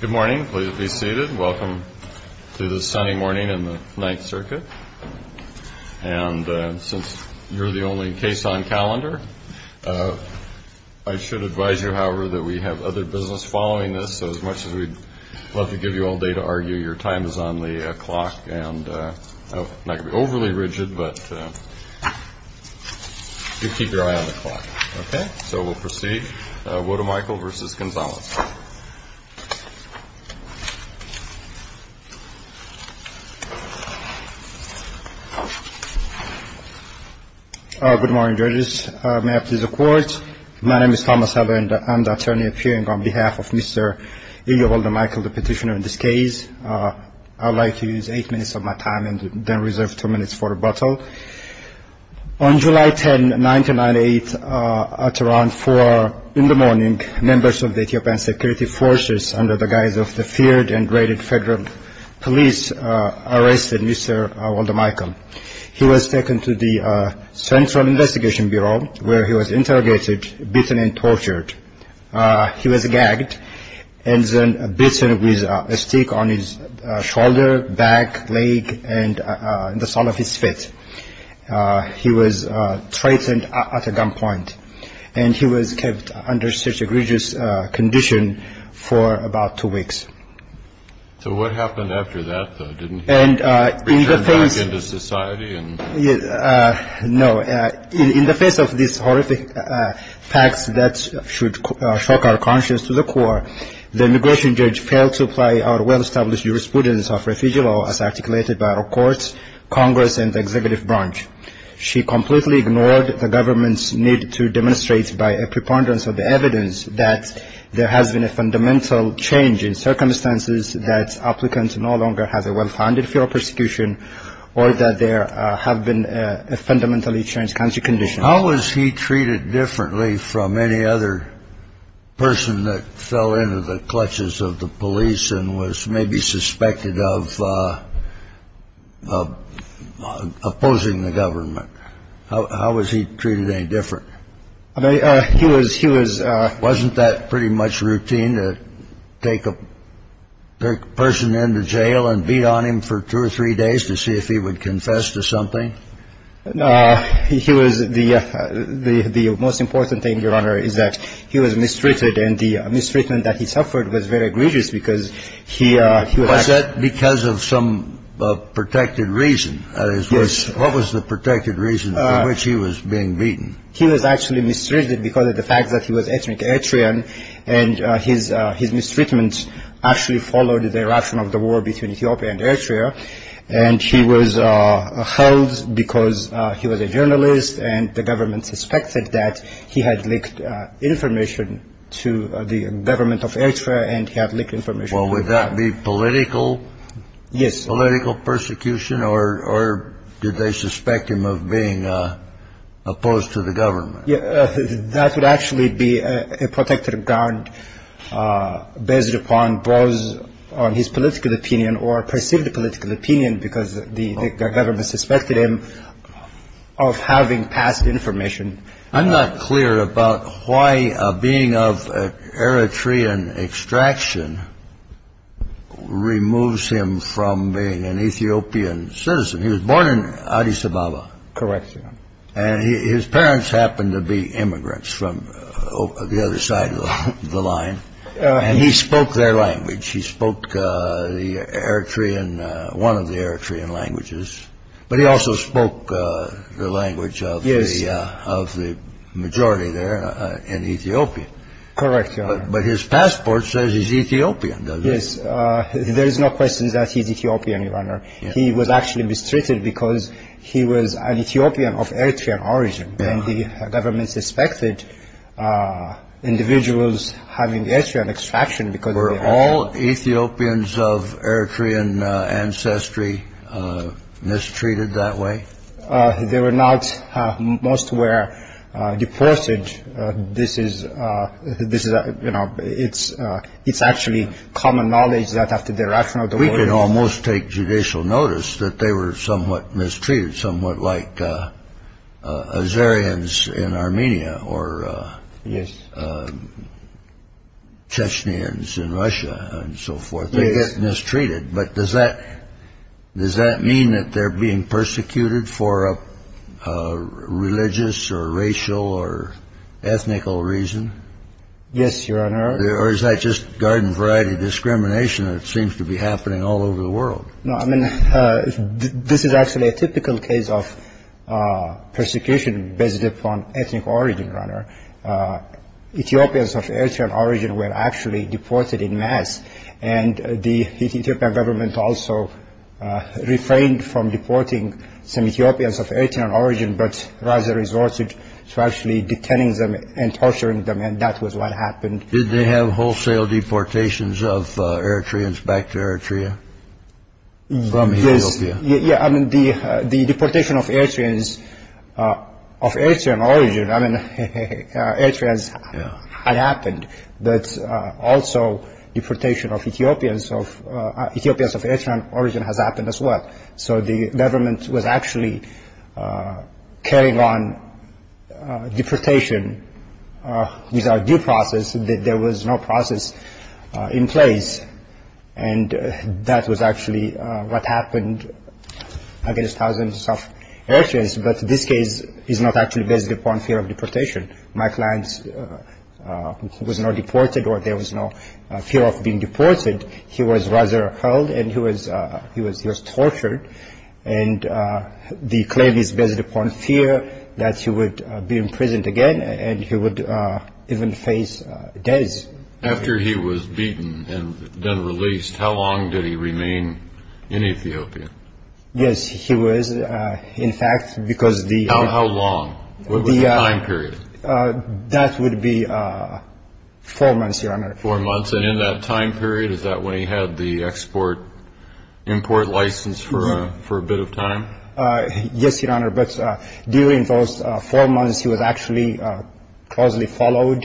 Good morning. Please be seated. Welcome to this Sunday morning in the Ninth Circuit. And since you're the only case on calendar, I should advise you, however, that we have other business following this, so as much as we'd love to give you all day to argue, your time is on the clock. And I'm not going to be overly rigid, but you keep your eye on the clock. Okay? So we'll proceed. Woldemichael v. Gonzales. Good morning, judges. May I please have the floor? My name is Thomas Heller, and I'm the attorney appearing on behalf of Mr. Eli Woldemichael, the petitioner in this case. I'd like to use eight minutes of my time and then reserve two minutes for rebuttal. On July 10, 1998, at around 4 in the morning, members of the Ethiopian security forces under the guise of the feared and raided federal police arrested Mr. Woldemichael. He was taken to the Central Investigation Bureau, where he was interrogated, beaten, and tortured. He was gagged and then beaten with a stick on his shoulder, back, leg, and the sole of his foot. He was threatened at gunpoint, and he was kept under such egregious condition for about two weeks. So what happened after that, though? Didn't he return back into society? No. In the face of these horrific facts that should shock our conscience to the core, the immigration judge failed to apply our well-established jurisprudence of refugee law as articulated by our courts, Congress, and the executive branch. She completely ignored the government's need to demonstrate by a preponderance of the evidence that there has been a fundamental change in circumstances that applicants no longer have a well-founded federal prosecution or that there have been a fundamentally changed country condition. How was he treated differently from any other person that fell into the clutches of the police and was maybe suspected of opposing the government? How was he treated any different? Wasn't that pretty much routine to take a person into jail and beat on him for two or three days to see if he would confess to something? The most important thing, Your Honor, is that he was mistreated, and the mistreatment that he suffered was very egregious because he was- Was that because of some protected reason? Yes. What was the protected reason for which he was being beaten? He was actually mistreated because of the fact that he was an ethnic Eritrean, and his mistreatment actually followed the eruption of the war between Ethiopia and Eritrea, and he was held because he was a journalist, and the government suspected that he had leaked information to the government of Eritrea, and he had leaked information- Well, would that be political- Yes. Political persecution, or did they suspect him of being opposed to the government? That would actually be a protected ground based upon both on his political opinion or perceived political opinion because the government suspected him of having passed information. I'm not clear about why being of Eritrean extraction removes him from being an Ethiopian citizen. He was born in Addis Ababa. Correct, Your Honor. And his parents happened to be immigrants from the other side of the line, and he spoke their language. He spoke one of the Eritrean languages, but he also spoke the language of the majority there in Ethiopian. Correct, Your Honor. But his passport says he's Ethiopian, doesn't it? Yes. There is no question that he's Ethiopian, Your Honor. He was actually mistreated because he was an Ethiopian of Eritrean origin, and the government suspected individuals having Eritrean extraction because of the- Were all Ethiopians of Eritrean ancestry mistreated that way? They were not. Most were deported. This is, you know, it's actually common knowledge that after the eruption of the war- We could almost take judicial notice that they were somewhat mistreated, somewhat like Azerians in Armenia or Chechnyans in Russia and so forth. They get mistreated. But does that mean that they're being persecuted for a religious or racial or ethnical reason? Yes, Your Honor. Or is that just garden variety discrimination that seems to be happening all over the world? No, I mean, this is actually a typical case of persecution based upon ethnic origin, Your Honor. Ethiopians of Eritrean origin were actually deported en masse, and the Ethiopian government also refrained from deporting some Ethiopians of Eritrean origin but rather resorted to actually detaining them and torturing them, and that was what happened. Did they have wholesale deportations of Eritreans back to Eritrea from Ethiopia? Yes. Yeah, I mean, the deportation of Eritreans of Eritrean origin, I mean, Eritreans had happened, but also deportation of Ethiopians of Eritrean origin has happened as well. So the government was actually carrying on deportation without due process. There was no process in place, and that was actually what happened against thousands of Eritreans. But this case is not actually based upon fear of deportation. My client was not deported or there was no fear of being deported. He was rather held and he was tortured, and the claim is based upon fear that he would be imprisoned again and he would even face death. After he was beaten and then released, how long did he remain in Ethiopia? Yes, he was, in fact, because the- How long? What was the time period? That would be four months, Your Honor. Four months, and in that time period, is that when he had the export-import license for a bit of time? Yes, Your Honor, but during those four months, he was actually closely followed.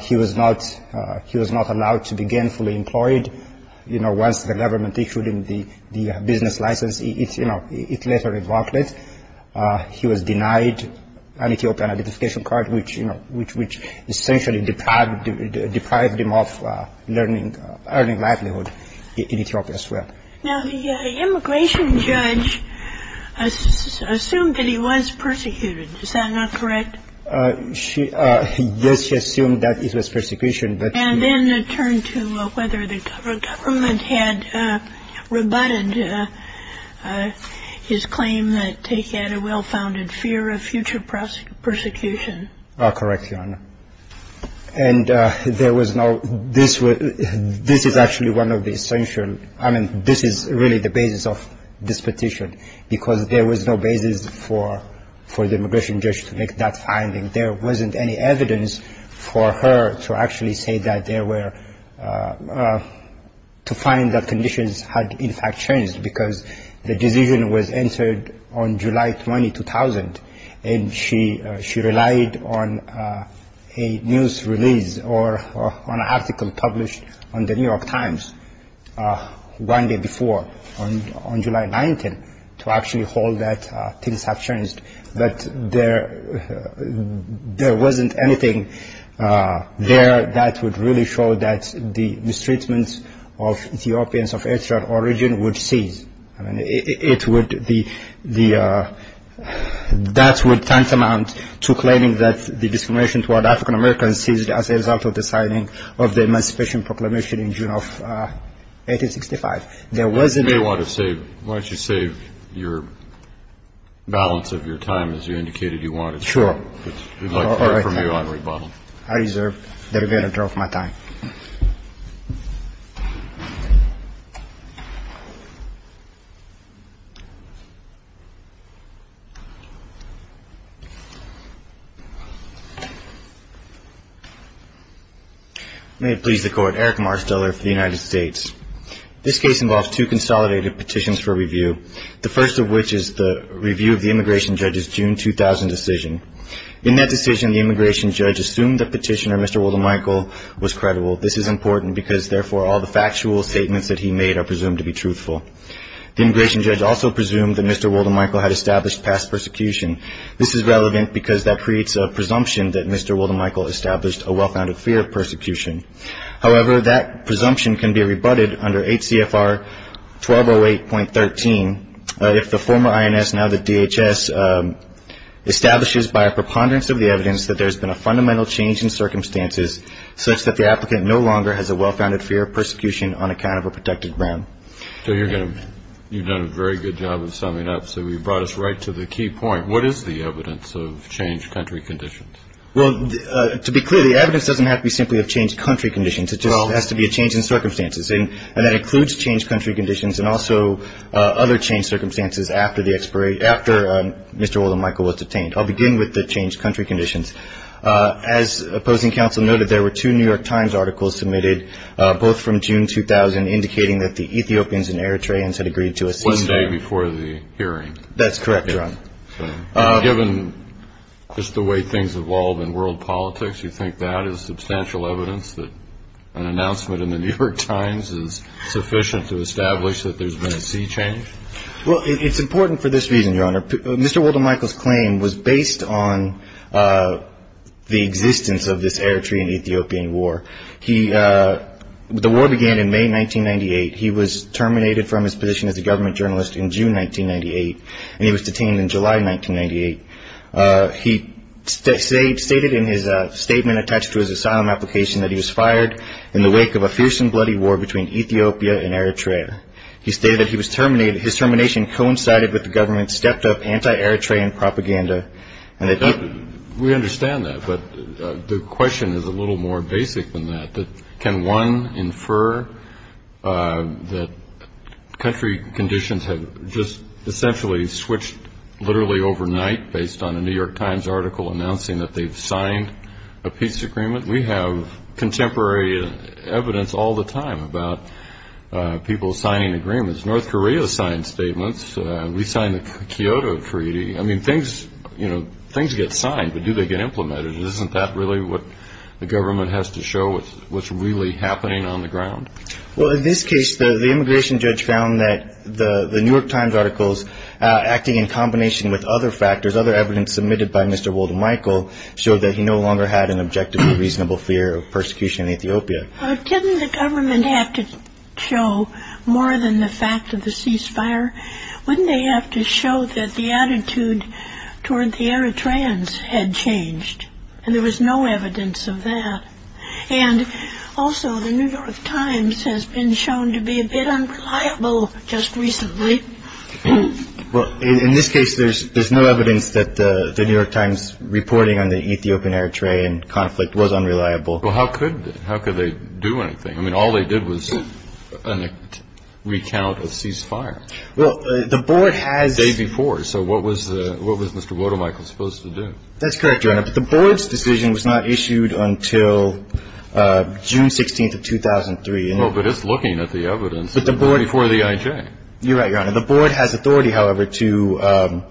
He was not allowed to be gainfully employed. Once the government issued him the business license, it later revoked it. He was denied an Ethiopian identification card, which essentially deprived him of earning livelihood in Ethiopia as well. Now, the immigration judge assumed that he was persecuted. Is that not correct? Yes, she assumed that it was persecution, but- And then it turned to whether the government had rebutted his claim that he had a well-founded fear of future persecution. Correct, Your Honor. And there was no – this is actually one of the essential – I mean, this is really the basis of this petition, because there was no basis for the immigration judge to make that finding. There wasn't any evidence for her to actually say that there were – to find that conditions had, in fact, changed, because the decision was entered on July 20, 2000, and she relied on a news release or an article published in the New York Times one day before, on July 19, to actually hold that things have changed. But there wasn't anything there that would really show that the mistreatment of Ethiopians of Eritrean origin would cease. I mean, it would – that would tantamount to claiming that the discrimination toward African Americans ceased as a result of the signing of the Emancipation Proclamation in June of 1865. There wasn't – You may want to save – why don't you save your balance of your time, as you indicated you wanted to. Sure. We'd like to hear from you on rebuttal. I reserve the right to withdraw from my time. May it please the Court. Eric Marsteller for the United States. This case involves two consolidated petitions for review, the first of which is the review of the immigration judge's June 2000 decision. In that decision, the immigration judge assumed the petitioner, Mr. Woldemichael, was credible. This is important because, therefore, all the factual statements that he made are presumed to be truthful. The immigration judge also presumed that Mr. Woldemichael had established past persecution. This is relevant because that creates a presumption that Mr. Woldemichael established a well-founded fear of persecution. However, that presumption can be rebutted under HCFR 1208.13 if the former INS, now the DHS, establishes by a preponderance of the evidence that there has been a fundamental change in circumstances such that the applicant no longer has a well-founded fear of persecution on account of a protected ground. So you're going to – you've done a very good job of summing up. So you brought us right to the key point. What is the evidence of changed country conditions? Well, to be clear, the evidence doesn't have to be simply of changed country conditions. It just has to be a change in circumstances. And that includes changed country conditions and also other changed circumstances after the – after Mr. Woldemichael was detained. I'll begin with the changed country conditions. As opposing counsel noted, there were two New York Times articles submitted, both from June 2000, indicating that the Ethiopians and Eritreans had agreed to a ceasefire. One day before the hearing. That's correct, Your Honor. Given just the way things evolve in world politics, you think that is substantial evidence that an announcement in the New York Times is sufficient to establish that there's been a sea change? Well, it's important for this reason, Your Honor. Mr. Woldemichael's claim was based on the existence of this Eritrean-Ethiopian war. He – the war began in May 1998. He was terminated from his position as a government journalist in June 1998, and he was detained in July 1998. He stated in his statement attached to his asylum application that he was fired in the wake of a fierce and bloody war between Ethiopia and Eritrea. He stated that he was terminated – his termination coincided with the government's stepped-up anti-Eritrean propaganda and that he – We understand that, but the question is a little more basic than that, that can one infer that country conditions have just essentially switched literally overnight based on a New York Times article announcing that they've signed a peace agreement? We have contemporary evidence all the time about people signing agreements. North Korea signed statements. We signed the Kyoto Treaty. I mean, things – you know, things get signed, but do they get implemented? Isn't that really what the government has to show, what's really happening on the ground? Well, in this case, the immigration judge found that the New York Times articles, acting in combination with other factors, other evidence submitted by Mr. Woldemichael, showed that he no longer had an objective and reasonable fear of persecution in Ethiopia. Didn't the government have to show more than the fact of the ceasefire? Wouldn't they have to show that the attitude toward the Eritreans had changed? And there was no evidence of that. And also, the New York Times has been shown to be a bit unreliable just recently. Well, in this case, there's no evidence that the New York Times reporting on the Ethiopian-Eritrean conflict was unreliable. Well, how could – how could they do anything? I mean, all they did was recount a ceasefire. Well, the Board has – The day before. So what was the – what was Mr. Woldemichael supposed to do? That's correct, Your Honor. But the Board's decision was not issued until June 16th of 2003. Well, but it's looking at the evidence before the IJ. You're right, Your Honor. The Board has authority, however, to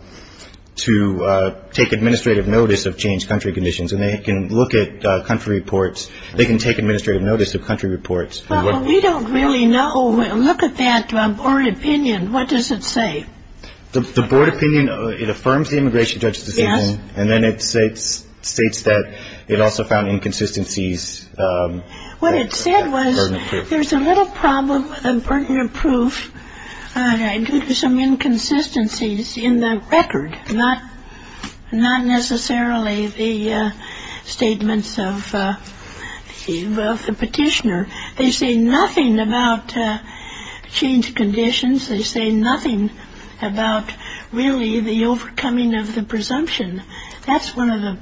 take administrative notice of changed country conditions. And they can look at country reports. They can take administrative notice of country reports. Well, we don't really know. Look at that Board opinion. What does it say? The Board opinion, it affirms the immigration judge's decision. Yes. And then it states that it also found inconsistencies. What it said was there's a little problem with the burden of proof due to some inconsistencies in the record, not necessarily the statements of the petitioner. They say nothing about changed conditions. They say nothing about really the overcoming of the presumption. That's one of the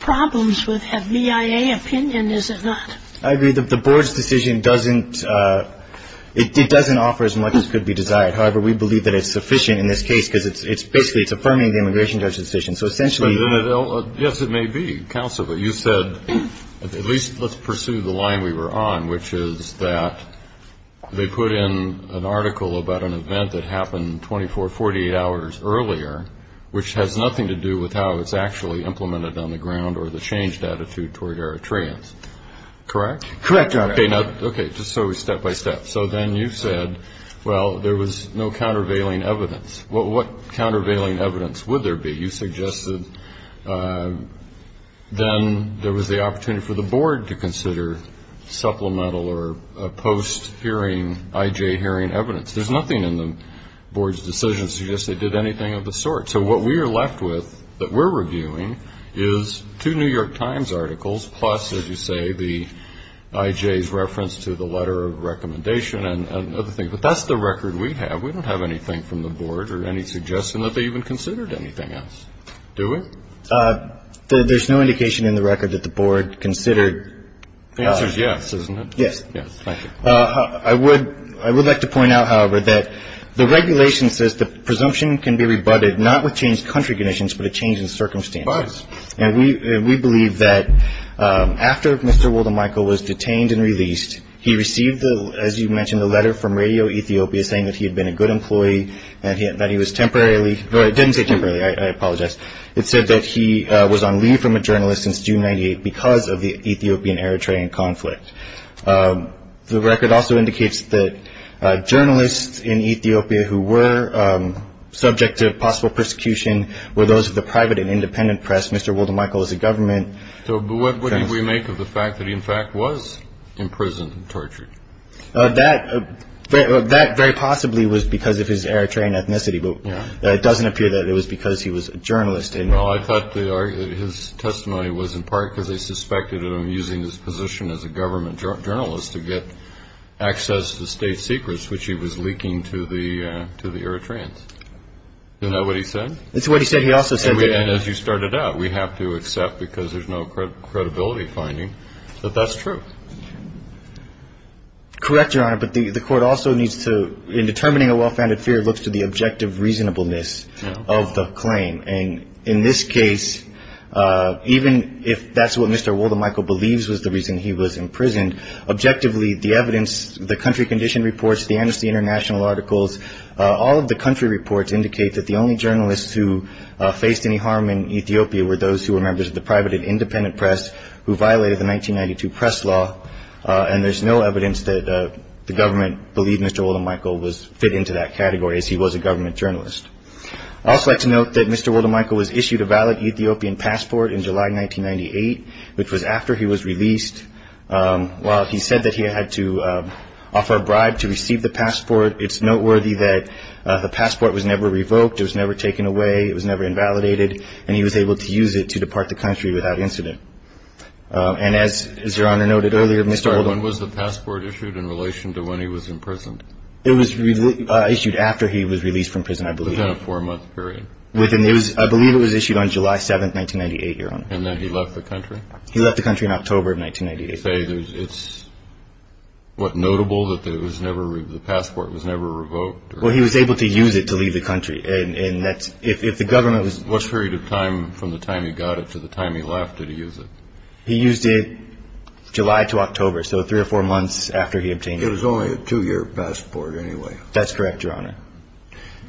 problems with a VIA opinion, is it not? I agree. The Board's decision doesn't – it doesn't offer as much as could be desired. However, we believe that it's sufficient in this case because it's – basically, it's affirming the immigration judge's decision. So essentially – Yes, it may be, counsel, but you said at least let's pursue the line we were on, which is that they put in an article about an event that happened 24, 48 hours earlier, which has nothing to do with how it's actually implemented on the ground or the changed attitude toward Eritreans. Correct? Correct, Your Honor. Okay, now – okay, just so we're step-by-step. So then you said, well, there was no countervailing evidence. What countervailing evidence would there be? You suggested then there was the opportunity for the Board to consider supplemental or post-hearing I.J. hearing evidence. There's nothing in the Board's decision that suggests they did anything of the sort. So what we are left with that we're reviewing is two New York Times articles, plus, as you say, the I.J.'s reference to the letter of recommendation and other things. But that's the record we have. We don't have anything from the Board or any suggestion that they even considered anything else, do we? There's no indication in the record that the Board considered – The answer is yes, isn't it? Yes. Yes, thank you. I would like to point out, however, that the regulation says the presumption can be rebutted not with changed country conditions, but a change in circumstances. It does. And we believe that after Mr. Woldemichael was detained and released, he received, as you mentioned, a letter from Radio Ethiopia saying that he had been a good employee, that he was temporarily – well, it didn't say temporarily. I apologize. It said that he was on leave from a journalist since June 98 because of the Ethiopian-Eritrean conflict. The record also indicates that journalists in Ethiopia who were subject to possible persecution were those of the private and independent press. Mr. Woldemichael was the government. But what did we make of the fact that he, in fact, was imprisoned and tortured? That very possibly was because of his Eritrean ethnicity, but it doesn't appear that it was because he was a journalist. Well, I thought his testimony was in part because they suspected him of using his position as a government journalist to get access to state secrets, which he was leaking to the Eritreans. Isn't that what he said? That's what he said. He also said that – And as you started out, we have to accept, because there's no credibility finding, that that's true. Correct, Your Honor, but the court also needs to – in determining a well-founded fear, it looks to the objective reasonableness of the claim. And in this case, even if that's what Mr. Woldemichael believes was the reason he was imprisoned, objectively, the evidence, the country condition reports, the Amnesty International articles, all of the country reports indicate that the only journalists who faced any harm in Ethiopia were those who were members of the private and independent press who violated the 1992 press law, and there's no evidence that the government believed Mr. Woldemichael fit into that category, as he was a government journalist. I'd also like to note that Mr. Woldemichael was issued a valid Ethiopian passport in July 1998, which was after he was released. While he said that he had to offer a bribe to receive the passport, it's noteworthy that the passport was never revoked, it was never taken away, it was never invalidated, and he was able to use it to depart the country without incident. And as Your Honor noted earlier, Mr. Woldemichael – When was the passport issued in relation to when he was imprisoned? It was issued after he was released from prison, I believe. Within a four-month period. I believe it was issued on July 7, 1998, Your Honor. He left the country in October of 1998. You say it's, what, notable that the passport was never revoked? Well, he was able to use it to leave the country, and that's – if the government was – What period of time from the time he got it to the time he left, did he use it? He used it July to October, so three or four months after he obtained it. It was only a two-year passport, anyway. That's correct, Your Honor.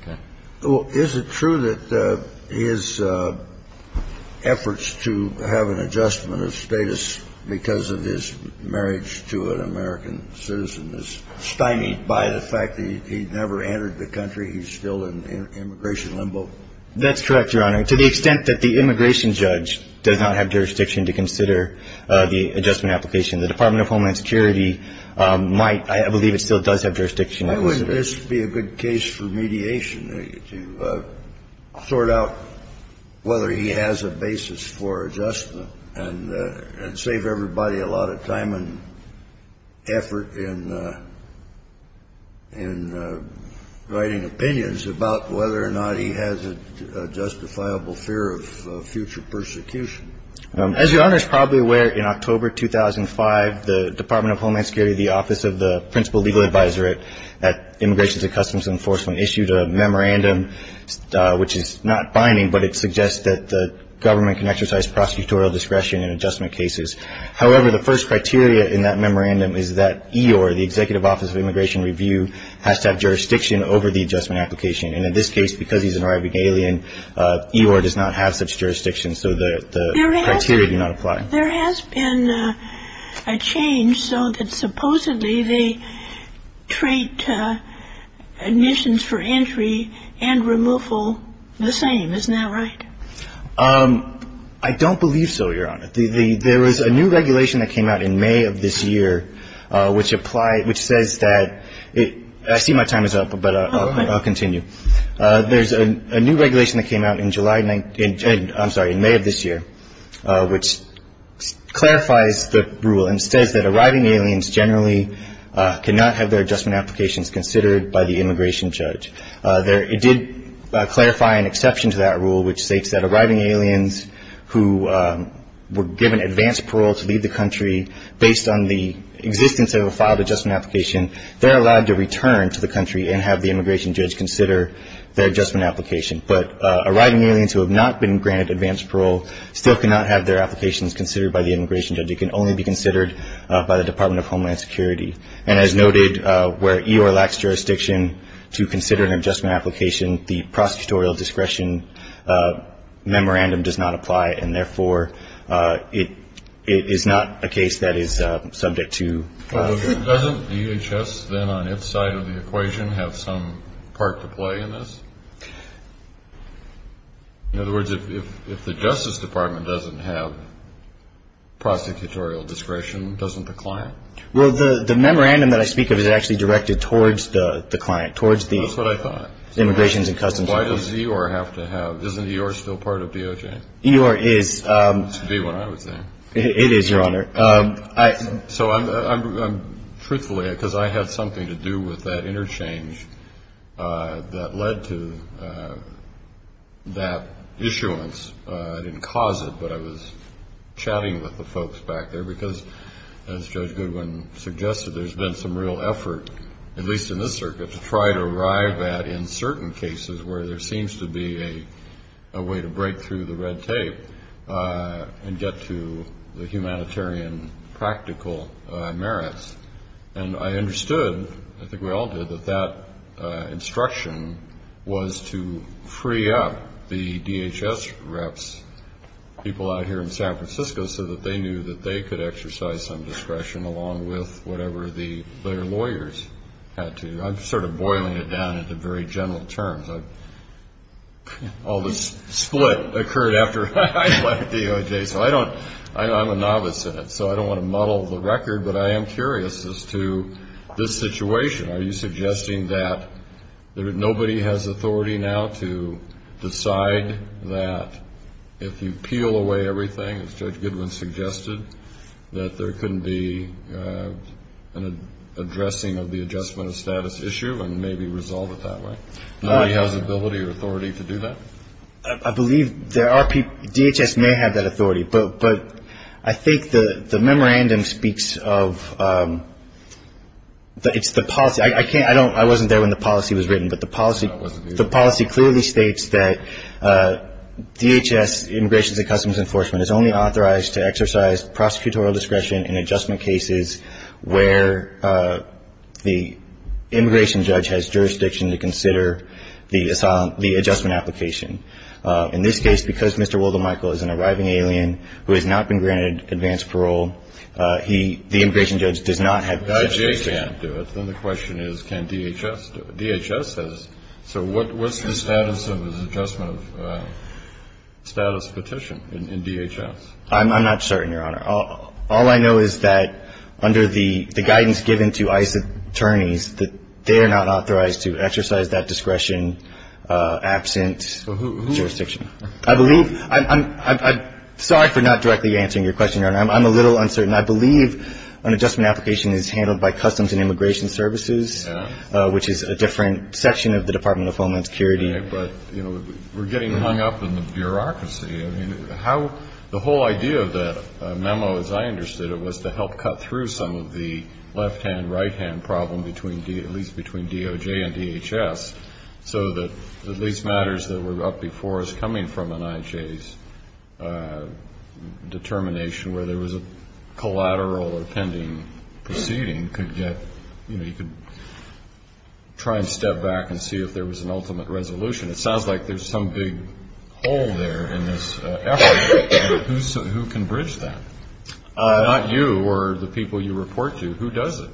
Okay. Well, is it true that his efforts to have an adjustment of status because of his marriage to an American citizen is stymied by the fact that he never entered the country? He's still in immigration limbo? That's correct, Your Honor. To the extent that the immigration judge does not have jurisdiction to consider the adjustment application, the Department of Homeland Security might – I believe it still does have jurisdiction. Why wouldn't this be a good case for mediation to sort out whether he has a basis for adjustment and save everybody a lot of time and effort in writing opinions about whether or not he has a justifiable fear of future persecution? As Your Honor is probably aware, in October 2005, the Department of Homeland Security, the Office of the Principal Legal Advisor at Immigration and Customs Enforcement, issued a memorandum which is not binding, but it suggests that the government can exercise prosecutorial discretion in adjustment cases. However, the first criteria in that memorandum is that EOIR, the Executive Office of Immigration Review, has to have jurisdiction over the adjustment application. And in this case, because he's an arriving alien, EOIR does not have such jurisdiction, so the criteria do not apply. There has been a change so that supposedly they treat admissions for entry and removal the same. Isn't that right? I don't believe so, Your Honor. There was a new regulation that came out in May of this year which applied – which says that – I see my time is up, but I'll continue. There's a new regulation that came out in July – I'm sorry, in May of this year which clarifies the rule and says that arriving aliens generally cannot have their adjustment applications considered by the immigration judge. It did clarify an exception to that rule which states that arriving aliens who were given advanced parole to leave the country based on the existence of a filed adjustment application, they're allowed to return to the country and have the immigration judge consider their adjustment application. But arriving aliens who have not been granted advanced parole still cannot have their applications considered by the immigration judge. It can only be considered by the Department of Homeland Security. And as noted, where EOIR lacks jurisdiction to consider an adjustment application, the prosecutorial discretion memorandum does not apply, and therefore it is not a case that is subject to follow-through. Doesn't DHS then on its side of the equation have some part to play in this? In other words, if the Justice Department doesn't have prosecutorial discretion, doesn't the client? Well, the memorandum that I speak of is actually directed towards the client, towards the… That's what I thought. …immigrations and customs… Why does EOIR have to have – isn't EOIR still part of DOJ? EOIR is… It should be when I was there. It is, Your Honor. So I'm – truthfully, because I had something to do with that interchange that led to that issuance. I didn't cause it, but I was chatting with the folks back there, because as Judge Goodwin suggested, there's been some real effort, at least in this circuit, to try to arrive at in certain cases where there seems to be a way to break through the red tape and get to the humanitarian practical merits. And I understood – I think we all did – that that instruction was to free up the DHS reps, people out here in San Francisco, so that they knew that they could exercise some discretion along with whatever their lawyers had to. I'm sort of boiling it down into very general terms. All this split occurred after I left DOJ, so I don't – I'm a novice in it, so I don't want to muddle the record, but I am curious as to this situation. Are you suggesting that nobody has authority now to decide that if you peel away everything, as Judge Goodwin suggested, that there couldn't be an addressing of the adjustment of status issue and maybe resolve it that way? Nobody has the ability or authority to do that? I believe there are – DHS may have that authority, but I think the memorandum speaks of – it's the policy. I can't – I don't – I wasn't there when the policy was written, but the policy clearly states that DHS, Immigrations and Customs Enforcement, is only authorized to exercise prosecutorial discretion in adjustment cases where the immigration judge has jurisdiction to consider the adjustment application. In this case, because Mr. Woldemichael is an arriving alien who has not been granted advanced parole, he – the immigration judge does not have jurisdiction. If I.J. can't do it, then the question is can DHS do it? DHS has – so what's the status of his adjustment of status petition in DHS? I'm not certain, Your Honor. All I know is that under the guidance given to ICE attorneys, that they are not authorized to exercise that discretion absent jurisdiction. I believe – I'm sorry for not directly answering your question, Your Honor. I'm a little uncertain. I believe an adjustment application is handled by Customs and Immigration Services, which is a different section of the Department of Homeland Security. But, you know, we're getting hung up in the bureaucracy. I mean, how – the whole idea of that memo, as I understood it, was to help cut through some of the left-hand, right-hand problem between – at least between DOJ and DHS so that the least matters that were up before us coming from an I.J.'s determination where there was a collateral or pending proceeding could get – you know, you could try and step back and see if there was an ultimate resolution. It sounds like there's some big hole there in this effort. Who can bridge that? Not you or the people you report to. Who does it?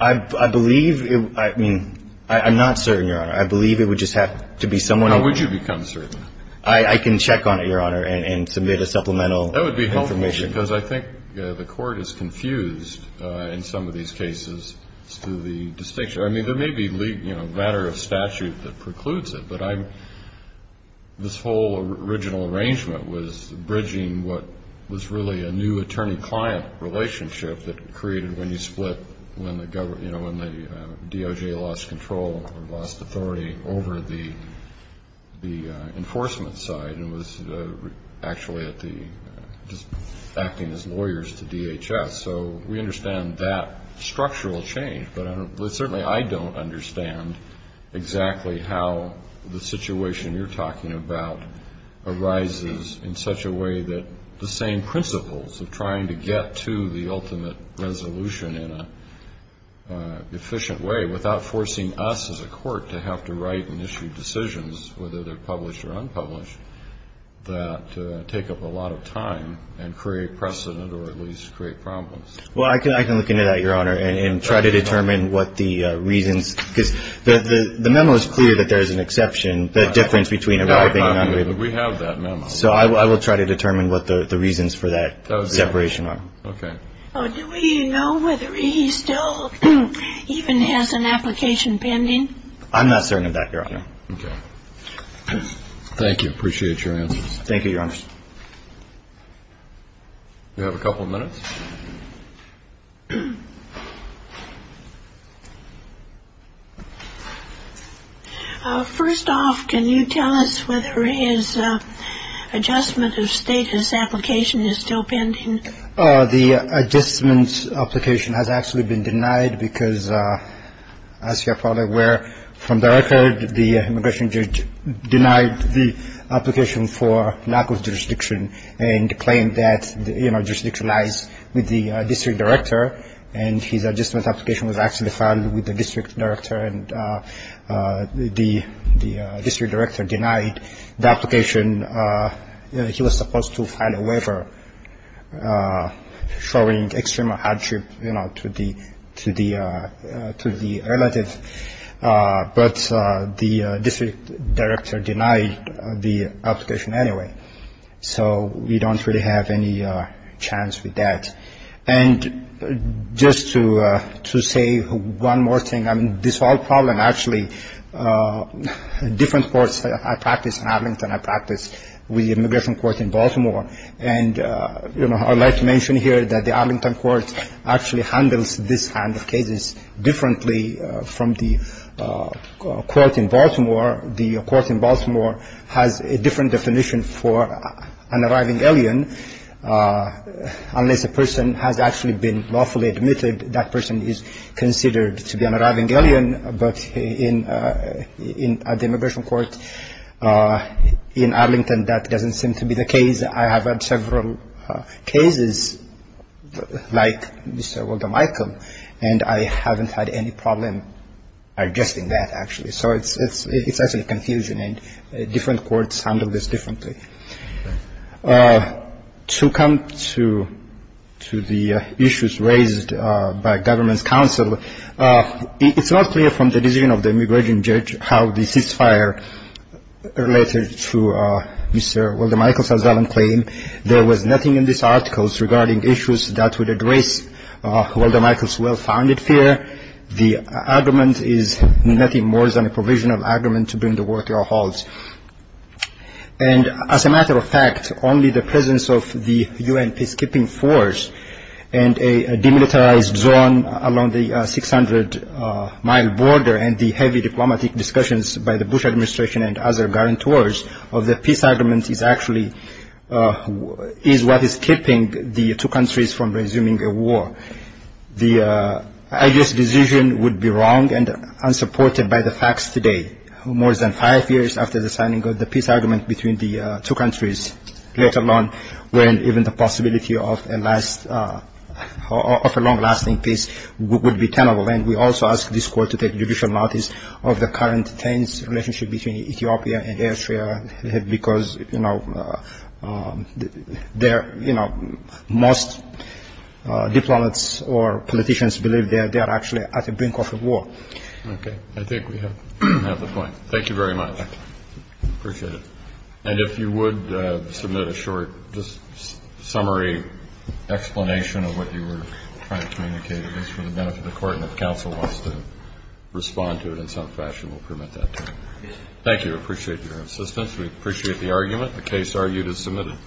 I believe – I mean, I'm not certain, Your Honor. I believe it would just have to be someone – How would you become certain? I can check on it, Your Honor, and submit a supplemental information. That would be helpful, because I think the Court is confused in some of these cases through the distinction. I mean, there may be, you know, a matter of statute that precludes it, but I'm – this whole original arrangement was bridging what was really a new attorney-client relationship that created when you split when the – you know, when the DOJ lost control or lost authority over the enforcement side and was actually at the – just acting as lawyers to DHS. So we understand that structural change, but certainly I don't understand exactly how the situation you're talking about arises in such a way that the same principles of trying to get to the ultimate resolution in an efficient way without forcing us as a court to have to write and issue decisions, whether they're published or unpublished, that take up a lot of time and create precedent or at least create problems. Well, I can look into that, Your Honor, and try to determine what the reasons – because the memo is clear that there is an exception, the difference between arriving and unarriving. We have that memo. So I will try to determine what the reasons for that separation are. Okay. Do we know whether he still even has an application pending? I'm not certain of that, Your Honor. Okay. Thank you. Appreciate your answers. Thank you, Your Honor. We have a couple of minutes. First off, can you tell us whether his adjustment of status application is still pending? The adjustment application has actually been denied because, as you're probably aware, from the record the immigration judge denied the application for lack of jurisdiction and claimed that the jurisdiction lies with the district director and his adjustment application was actually filed with the district director and the district director denied the application. He was supposed to file a waiver showing extreme hardship to the relative, but the district director denied the application anyway. So we don't really have any chance with that. And just to say one more thing, this whole problem actually – the different courts I practice in Arlington, I practice with the immigration court in Baltimore, and I would like to mention here that the Arlington court actually handles this kind of cases differently from the court in Baltimore. The court in Baltimore has a different definition for an arriving alien. Unless a person has actually been lawfully admitted, that person is considered to be an arriving alien, but at the immigration court in Arlington that doesn't seem to be the case. I have had several cases like Mr. Walter Michael, and I haven't had any problem adjusting that actually. So it's actually confusion, and different courts handle this differently. To come to the issues raised by government's counsel, it's not clear from the decision of the immigration judge how the ceasefire related to Mr. Walter Michael's claim. There was nothing in these articles regarding issues that would address Walter Michael's well-founded fear. The argument is nothing more than a provisional argument to bring the war to a halt. And as a matter of fact, only the presence of the U.N. peacekeeping force and a demilitarized zone along the 600-mile border and the heavy diplomatic discussions by the Bush administration and other guarantors of the peace agreement is actually what is keeping the two countries from resuming a war. I guess the decision would be wrong and unsupported by the facts today. More than five years after the signing of the peace agreement between the two countries, let alone when even the possibility of a long-lasting peace would be tenable. And we also ask this court to take judicial notice of the current tense relationship between Ethiopia and Eritrea, because most diplomats or politicians believe they are actually at the brink of a war. Okay, I think we have the point. Thank you very much. I appreciate it. And if you would submit a short summary explanation of what you were trying to communicate, it's for the benefit of the court, and if counsel wants to respond to it in some fashion, we'll permit that. Thank you. I appreciate your assistance. We appreciate the argument. The case argued is submitted.